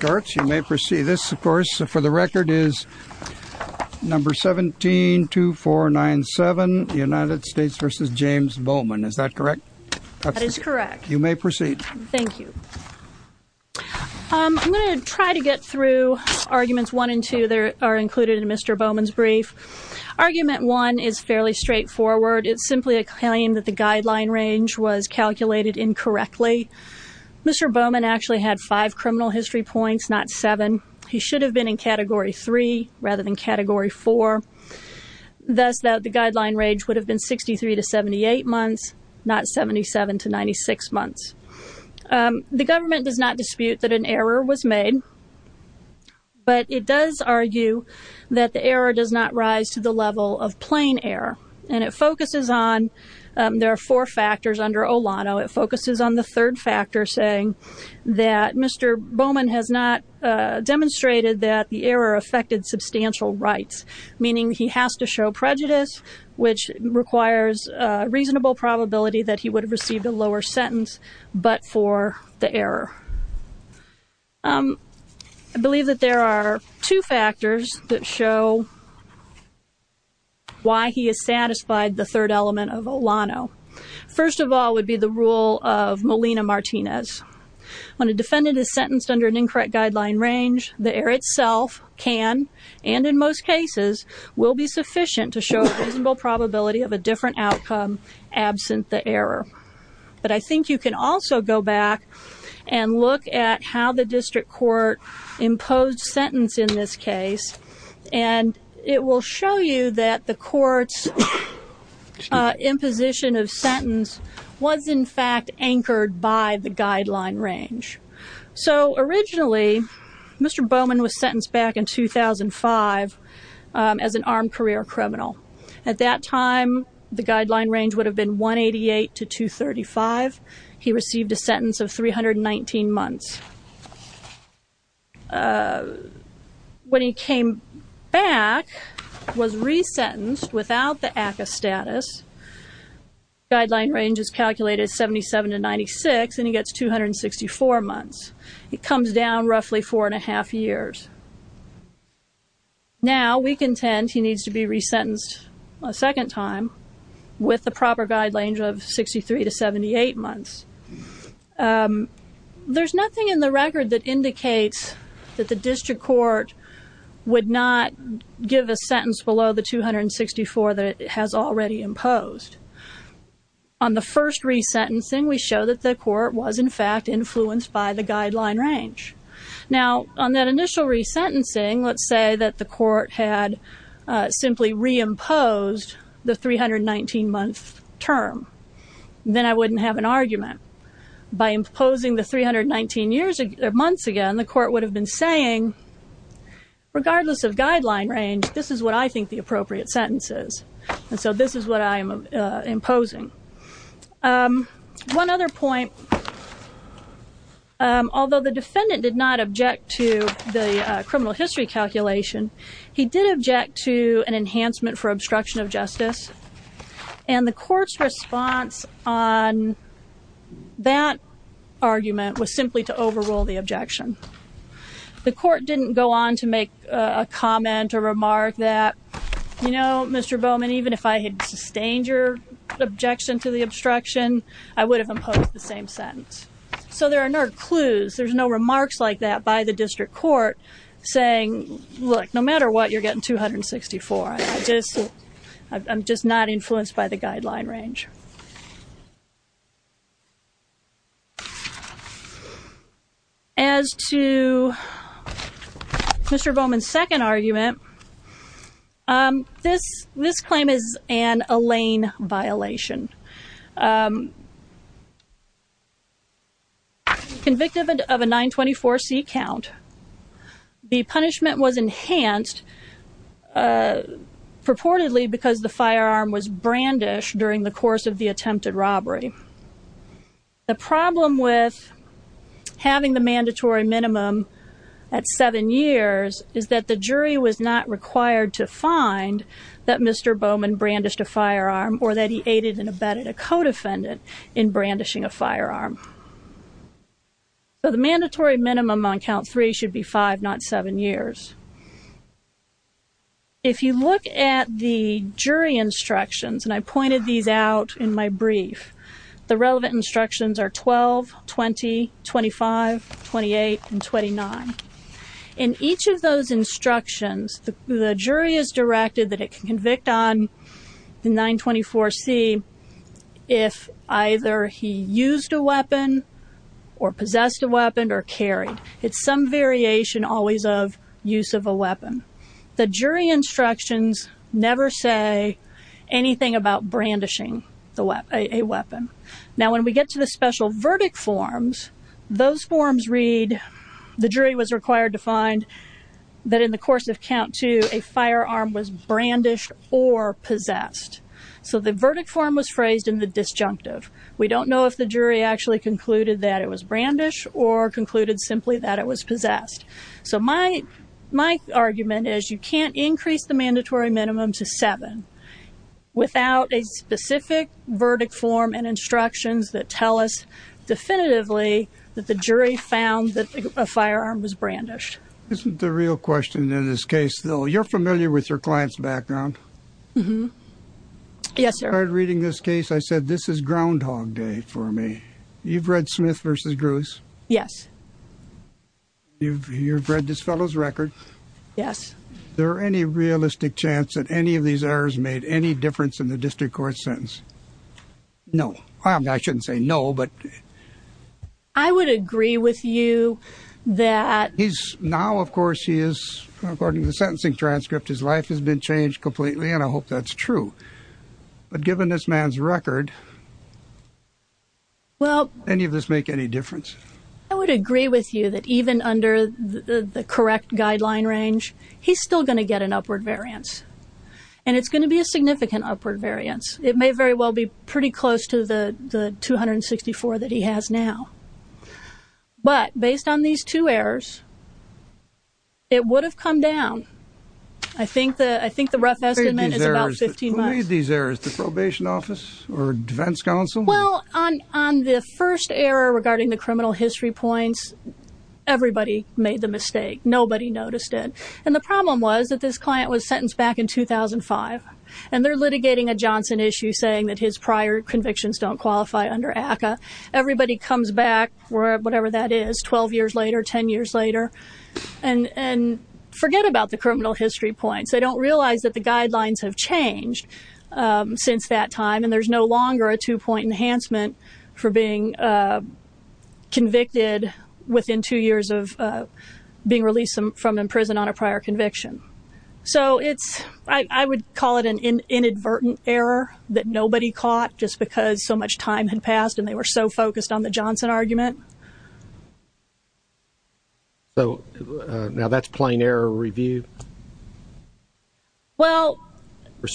You may proceed. This, of course, for the record, is number 172497, United States v. James Bowman. Is that correct? That is correct. You may proceed. Thank you. I'm going to try to get through arguments one and two that are included in Mr. Bowman's brief. Argument one is fairly straightforward. It's simply a claim that the guideline range was calculated incorrectly. Mr. Bowman actually had five criminal history points, not seven. He should have been in Category 3 rather than Category 4. Thus, the guideline range would have been 63 to 78 months, not 77 to 96 months. The government does not dispute that an error was made, but it does argue that the error does not rise to the level of plain error. And it focuses on, there are four factors under Olano. It focuses on the third factor, saying that Mr. Bowman has not demonstrated that the error affected substantial rights, meaning he has to show prejudice, which requires a reasonable probability that he would have received a lower sentence but for the error. I believe that there are two factors that show why he has satisfied the third element of Olano. First of all would be the rule of Molina-Martinez. When a defendant is sentenced under an incorrect guideline range, the error itself can, and in most cases, will be sufficient to show a reasonable probability of a different outcome absent the error. But I think you can also go back and look at how the district court imposed sentence in this case, and it will show you that the court's imposition of sentence was in fact anchored by the guideline range. So originally, Mr. Bowman was sentenced back in 2005 as an armed career criminal. At that time, the guideline range would have been 188 to 235. He received a sentence of 319 months. When he came back, was resentenced without the ACCA status, guideline range is calculated 77 to 96, and he gets 264 months. It comes down roughly four and a half years. Now we contend he needs to be resentenced a second time with the proper guideline range of 63 to 78 months. There's nothing in the record that indicates that the district court would not give a sentence below the 264 that it has already imposed. On the first resentencing, we show that the court was in fact influenced by the guideline range. Now, on that initial resentencing, let's say that the court had simply reimposed the 319-month term. Then I wouldn't have an argument. By imposing the 319 months again, the court would have been saying, regardless of guideline range, this is what I think the appropriate sentence is, and so this is what I am imposing. One other point, although the defendant did not object to the criminal history calculation, he did object to an enhancement for obstruction of justice, and the court's response on that argument was simply to overrule the objection. The court didn't go on to make a comment or remark that, you know, Mr. Bowman, even if I had sustained your objection to the obstruction, I would have imposed the same sentence. So there are no clues. There's no remarks like that by the district court saying, look, no matter what, you're getting 264. I'm just not influenced by the guideline range. As to Mr. Bowman's second argument, this claim is an Elaine violation. Convicted of a 924C count, the punishment was enhanced purportedly because the firearm was brandished during the course of the attempted robbery. The problem with having the mandatory minimum at seven years is that the jury was not required to find that Mr. Bowman brandished a firearm or that he aided and abetted a co-defendant in brandishing a firearm. So the mandatory minimum on count three should be five, not seven years. If you look at the jury instructions, and I pointed these out in my brief, the relevant instructions are 12, 20, 25, 28, and 29. In each of those instructions, the jury is directed that it can convict on the 924C if either he used a weapon or possessed a weapon or carried. It's some variation always of use of a weapon. The jury instructions never say anything about brandishing a weapon. Now when we get to the special verdict forms, those forms read, the jury was required to find that in the course of count two, a firearm was brandished or possessed. So the verdict form was phrased in the disjunctive. We don't know if the jury actually concluded that it was brandished or concluded simply that it was possessed. So my argument is you can't increase the mandatory minimum to seven without a specific verdict form and instructions that tell us definitively that the jury found that a firearm was brandished. This is the real question in this case, though. You're familiar with your client's background. Yes, sir. Reading this case, I said this is groundhog day for me. You've read Smith v. Yes. You've read this fellow's record. Yes. Is there any realistic chance that any of these errors made any difference in the district court sentence? No. I shouldn't say no, but... I would agree with you that... Now, of course, he is, according to the sentencing transcript, his life has been changed completely, and I hope that's true. But given this man's record, any of this make any difference? I would agree with you that even under the correct guideline range, he's still going to get an upward variance, and it's going to be a significant upward variance. It may very well be pretty close to the 264 that he has now. But based on these two errors, it would have come down. I think the rough estimate is about 15 months. Who made these errors, the probation office or defense counsel? Well, on the first error regarding the criminal history points, everybody made the mistake. Nobody noticed it. And the problem was that this client was sentenced back in 2005, and they're litigating a Johnson issue saying that his prior convictions don't qualify under ACCA. Everybody comes back, whatever that is, 12 years later, 10 years later, and forget about the criminal history points. They don't realize that the guidelines have changed since that time, and there's no longer a two-point enhancement for being convicted within two years of being released from prison on a prior conviction. So I would call it an inadvertent error that nobody caught just because so much time had passed and they were so focused on the Johnson argument. So now that's plain error review? Well,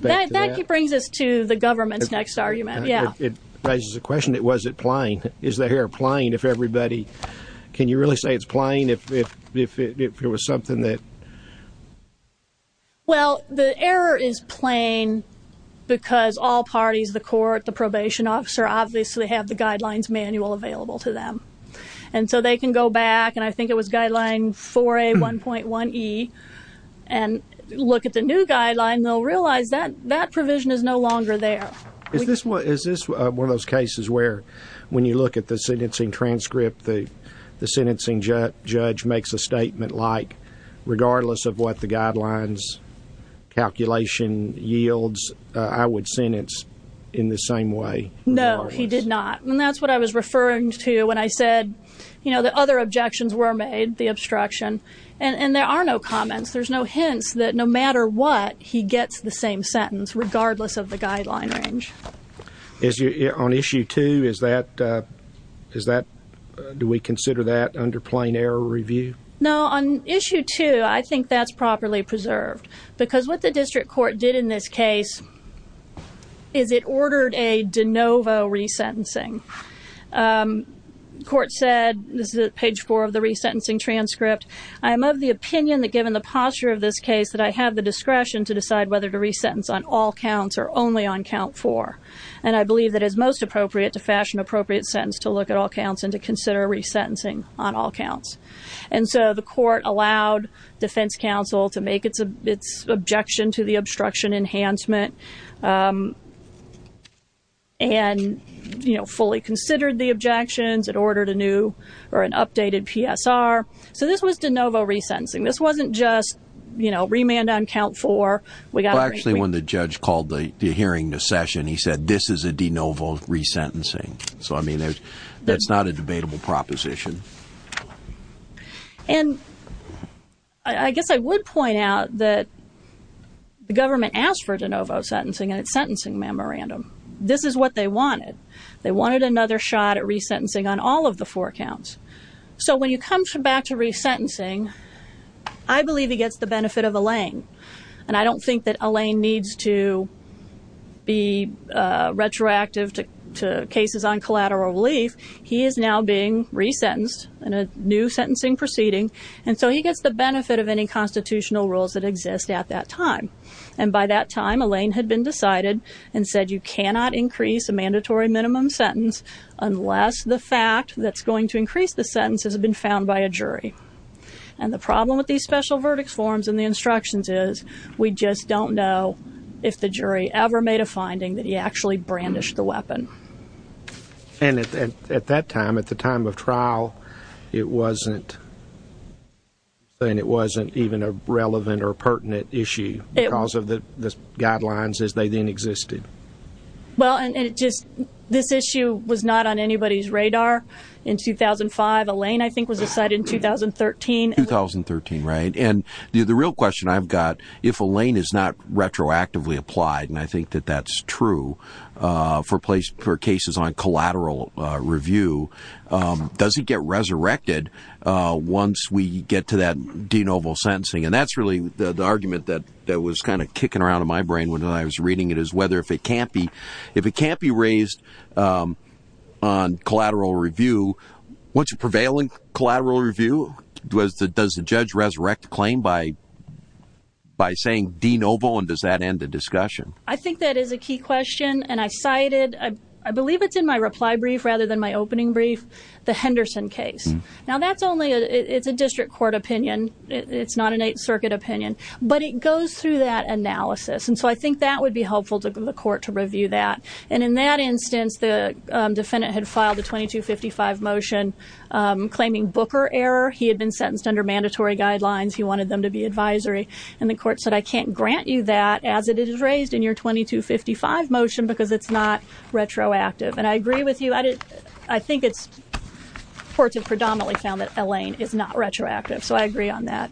that brings us to the government's next argument, yeah. It raises the question, was it plain? Is the error plain if everybody – can you really say it's plain if it was something that – Well, the error is plain because all parties, the court, the probation officer, obviously have the guidelines manual available to them. And so they can go back, and I think it was guideline 4A1.1E, and look at the new guideline, and they'll realize that that provision is no longer there. Is this one of those cases where when you look at the sentencing transcript, the sentencing judge makes a statement like, regardless of what the guidelines calculation yields, I would sentence in the same way? No, he did not. And that's what I was referring to when I said that other objections were made, the obstruction. And there are no comments. There's no hints that no matter what, he gets the same sentence regardless of the guideline range. On issue 2, is that – do we consider that under plain error review? No, on issue 2, I think that's properly preserved because what the district court did in this case is it ordered a de novo resentencing. The court said, this is at page 4 of the resentencing transcript, I am of the opinion that given the posture of this case that I have the discretion to decide whether to resentence on all counts or only on count 4. And I believe that it is most appropriate to fashion an appropriate sentence to look at all counts and to consider resentencing on all counts. And so the court allowed defense counsel to make its objection to the obstruction enhancement and, you know, fully considered the objections. It ordered a new or an updated PSR. So this was de novo resentencing. This wasn't just, you know, remand on count 4. Actually, when the judge called the hearing to session, he said, this is a de novo resentencing. So, I mean, that's not a debatable proposition. And I guess I would point out that the government asked for de novo sentencing and its sentencing memorandum. This is what they wanted. They wanted another shot at resentencing on all of the four counts. So when you come back to resentencing, I believe he gets the benefit of a lane. And I don't think that a lane needs to be retroactive to cases on collateral relief. He is now being resentenced in a new sentencing proceeding. And so he gets the benefit of any constitutional rules that exist at that time. And by that time, a lane had been decided and said you cannot increase a mandatory minimum sentence unless the fact that's going to increase the sentence has been found by a jury. And the problem with these special verdicts forms and the instructions is we just don't know if the jury ever made a finding that he actually brandished the weapon. And at that time, at the time of trial, it wasn't even a relevant or pertinent issue because of the guidelines as they then existed. Well, and just this issue was not on anybody's radar in 2005. A lane, I think, was decided in 2013. 2013, right. And the real question I've got, if a lane is not retroactively applied, and I think that that's true for cases on collateral review, does he get resurrected once we get to that de novo sentencing? And that's really the argument that was kind of kicking around in my brain when I was reading it is whether if it can't be raised on collateral review, once a prevailing collateral review, does the judge resurrect the claim by saying de novo and does that end the discussion? I think that is a key question. And I cited, I believe it's in my reply brief rather than my opening brief, the Henderson case. Now, that's only a district court opinion. It's not an Eighth Circuit opinion. But it goes through that analysis. And so I think that would be helpful to the court to review that. And in that instance, the defendant had filed a 2255 motion claiming Booker error. He had been sentenced under mandatory guidelines. He wanted them to be advisory. And the court said, I can't grant you that as it is raised in your 2255 motion because it's not retroactive. And I agree with you. I think courts have predominantly found that a lane is not retroactive. So I agree on that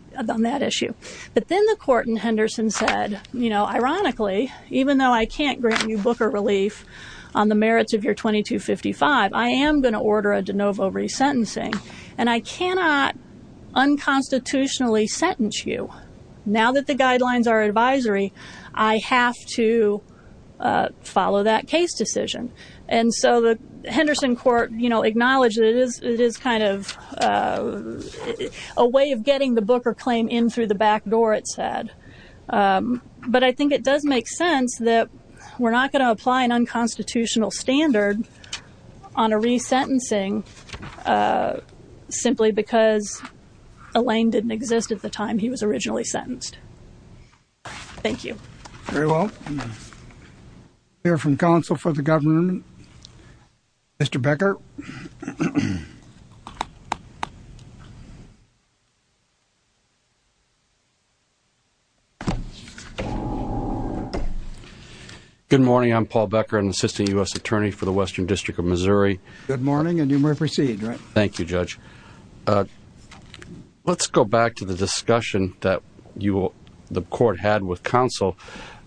issue. But then the court in Henderson said, you know, ironically, even though I can't grant you Booker relief on the merits of your 2255, I am going to order a de novo resentencing. And I cannot unconstitutionally sentence you. Now that the guidelines are advisory, I have to follow that case decision. And so the Henderson court, you know, acknowledges it is kind of a way of getting the Booker claim in through the back door, it said. But I think it does make sense that we're not going to apply an unconstitutional standard on a resentencing simply because a lane didn't exist at the time he was originally sentenced. Thank you. Very well. Hear from counsel for the government. Mr. Becker. Good morning. I'm Paul Becker, an assistant U.S. attorney for the Western District of Missouri. Good morning. And you may proceed. Thank you, Judge. Let's go back to the discussion that you the court had with counsel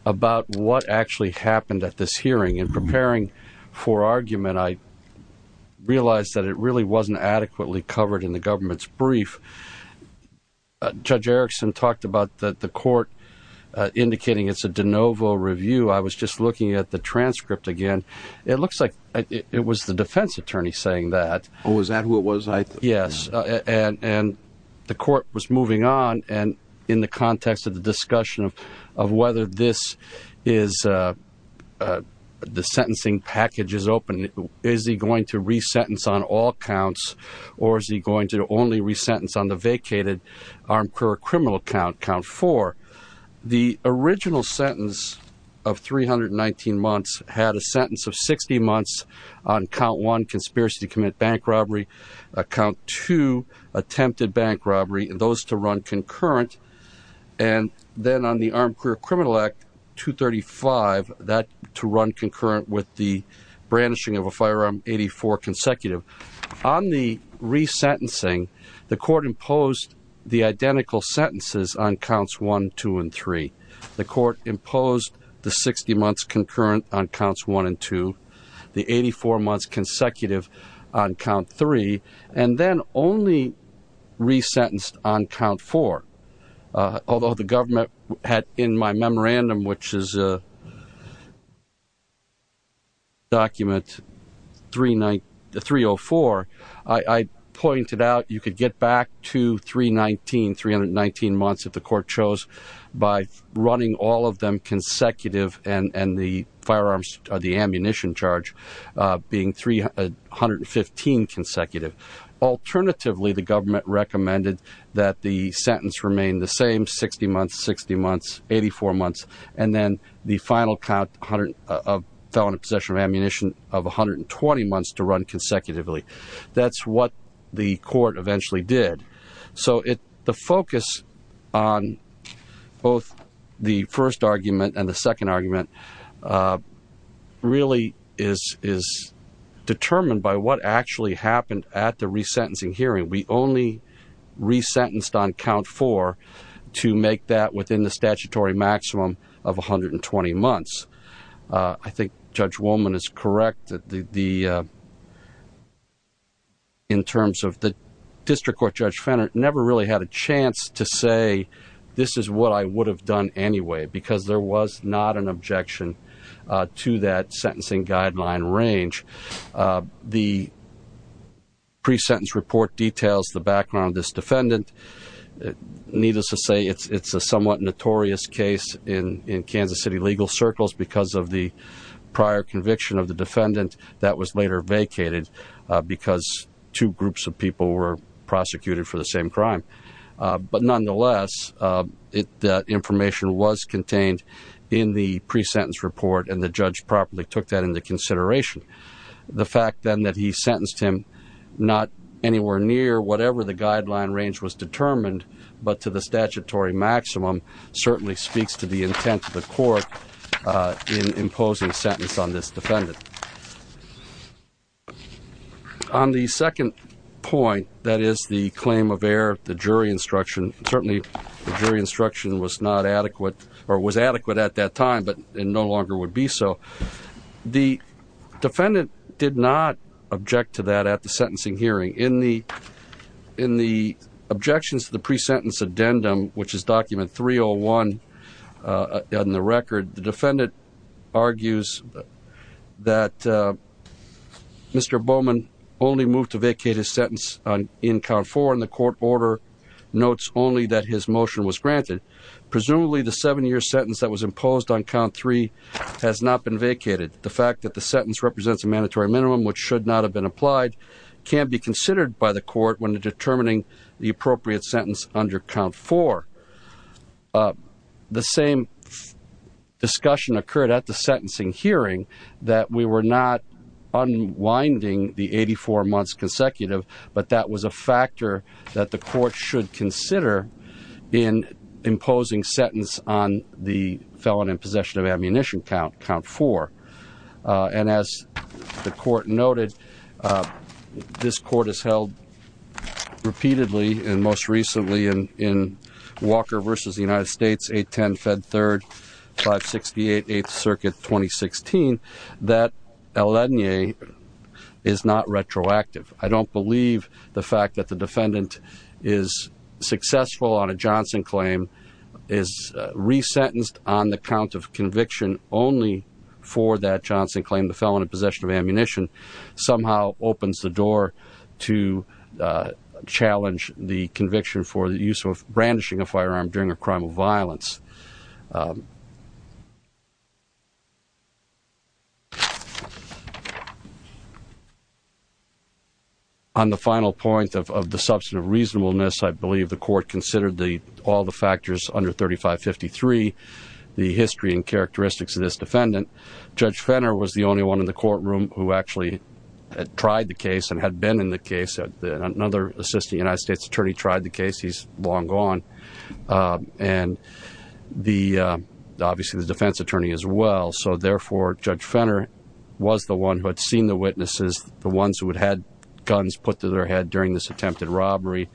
about what actually happened at this hearing in preparing for argument. I realized that it really wasn't adequately covered in the government's brief. Judge Erickson talked about the court indicating it's a de novo review. I was just looking at the transcript again. It looks like it was the defense attorney saying that. Oh, is that who it was? Yes. And the court was moving on. And in the context of the discussion of whether this is the sentencing package is open, is he going to resentence on all counts? Or is he going to only resentence on the vacated armed criminal count, count four? The original sentence of 319 months had a sentence of 60 months on count one, conspiracy to commit bank robbery. Count two, attempted bank robbery. And those to run concurrent. And then on the armed criminal act, 235, that to run concurrent with the brandishing of a firearm, 84 consecutive. On the resentencing, the court imposed the identical sentences on counts one, two and three. The court imposed the 60 months concurrent on counts one and two. The 84 months consecutive on count three. And then only resentenced on count four. Although the government had in my memorandum, which is document 304, I pointed out you could get back to 319, 319 months if the court chose, by running all of them consecutive and the firearms or the ammunition charge being 315 consecutive. Alternatively, the government recommended that the sentence remain the same, 60 months, 60 months, 84 months. And then the final count of felon in possession of ammunition of 120 months to run consecutively. That's what the court eventually did. So the focus on both the first argument and the second argument really is determined by what actually happened at the resentencing hearing. We only resentenced on count four to make that within the statutory maximum of 120 months. I think Judge Wolman is correct. In terms of the district court, Judge Fenner never really had a chance to say, this is what I would have done anyway. Because there was not an objection to that sentencing guideline range. The pre-sentence report details the background of this defendant. Needless to say, it's a somewhat notorious case in Kansas City legal circles because of the prior conviction of the defendant that was later vacated. Because two groups of people were prosecuted for the same crime. But nonetheless, the information was contained in the pre-sentence report and the judge properly took that into consideration. The fact then that he sentenced him not anywhere near whatever the guideline range was determined, but to the statutory maximum, certainly speaks to the intent of the court in imposing a sentence on this defendant. On the second point, that is the claim of error, the jury instruction, certainly the jury instruction was not adequate or was adequate at that time, but it no longer would be so. The defendant did not object to that at the sentencing hearing. In the objections to the pre-sentence addendum, which is document 301 on the record, the defendant argues that Mr. Bowman only moved to vacate his sentence in count four and the court order notes only that his motion was granted. Presumably the seven-year sentence that was imposed on count three has not been vacated. The fact that the sentence represents a mandatory minimum, which should not have been applied, can be considered by the court when determining the appropriate sentence under count four. The same discussion occurred at the sentencing hearing that we were not unwinding the 84 months consecutive, but that was a factor that the court should consider in imposing sentence on the felon in possession of ammunition count four. As the court noted, this court has held repeatedly and most recently in Walker v. United States, 810 Fed 3rd, 568 8th Circuit, 2016, that Eladniye is not retroactive. I don't believe the fact that the defendant is successful on a Johnson claim, is resentenced on the count of conviction only for that Johnson claim, the felon in possession of ammunition, somehow opens the door to challenge the conviction for the use of brandishing a firearm during a crime of violence. On the final point of the substantive reasonableness, I believe the court considered all the factors under 3553, the history and characteristics of this defendant. Judge Fenner was the only one in the courtroom who actually tried the case and had been in the case. Another assistant United States attorney tried the case. He's long gone. And obviously the defense attorney as well. So therefore, Judge Fenner was the one who had seen the witnesses, the ones who had had guns put to their head during this attempted robbery,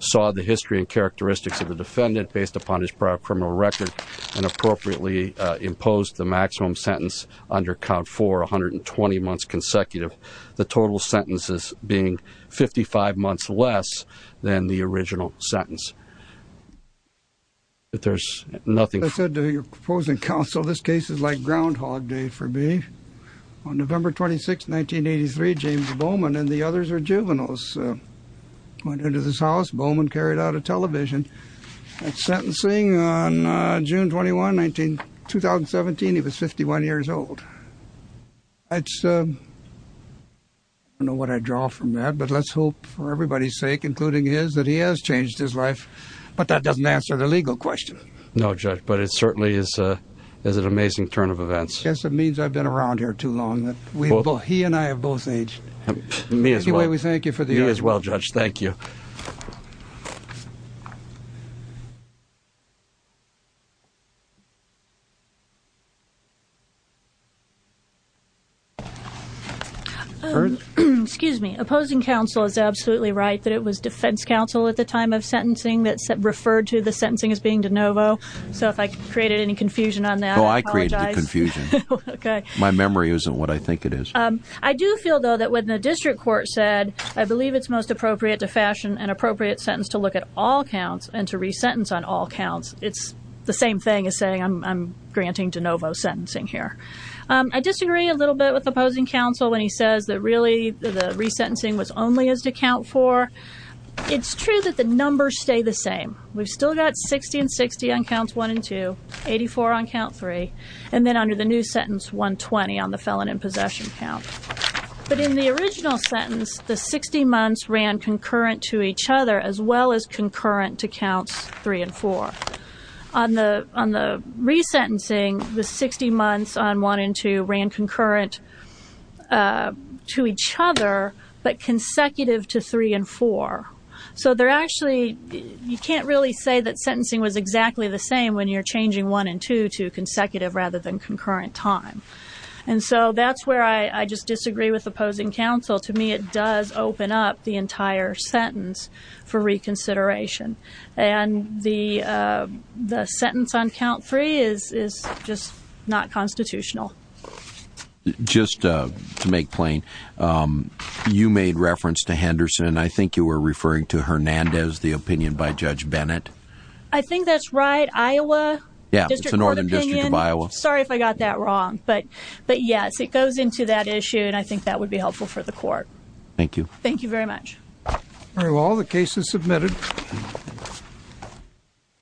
saw the history and characteristics of the defendant based upon his prior criminal record, and appropriately imposed the maximum sentence under count four, 120 months consecutive, the total sentences being 55 months less than the original sentence. I said to your opposing counsel, this case is like Groundhog Day for me. On November 26, 1983, James Bowman and the others are juveniles. Went into this house, Bowman carried out a television sentencing on June 21, 2017. He was 51 years old. I don't know what I draw from that, but let's hope for everybody's sake, including his, that he has changed his life. But that doesn't answer the legal question. No, Judge, but it certainly is an amazing turn of events. Yes, it means I've been around here too long. He and I have both aged. Me as well. Anyway, we thank you for the honor. You as well, Judge. Thank you. Excuse me. Opposing counsel is absolutely right that it was defense counsel at the time of sentencing that referred to the sentencing as being de novo. So if I created any confusion on that, I apologize. Oh, I created the confusion. Okay. My memory isn't what I think it is. I do feel, though, that when the district court said, I believe it's most appropriate to fashion an appropriate sentence to look at all counts and to resentence on all counts, it's the same thing as saying I'm granting de novo sentencing here. I disagree a little bit with opposing counsel when he says that really the resentencing was only as to count for. It's true that the numbers stay the same. We've still got 60 and 60 on counts one and two, 84 on count three, and then under the new sentence, 120 on the felon in possession count. But in the original sentence, the 60 months ran concurrent to each other as well as concurrent to counts three and four. On the resentencing, the 60 months on one and two ran concurrent to each other but consecutive to three and four. So they're actually, you can't really say that sentencing was exactly the same when you're changing one and two to consecutive rather than concurrent time. And so that's where I just disagree with opposing counsel. To me, it does open up the entire sentence for reconsideration. And the sentence on count three is just not constitutional. Just to make plain, you made reference to Henderson. I think you were referring to Hernandez, the opinion by Judge Bennett. I think that's right. Iowa? Yeah, it's the Northern District of Iowa. Sorry if I got that wrong. But yes, it goes into that issue, and I think that would be helpful for the court. Thank you. Thank you very much. All right, well, the case is submitted.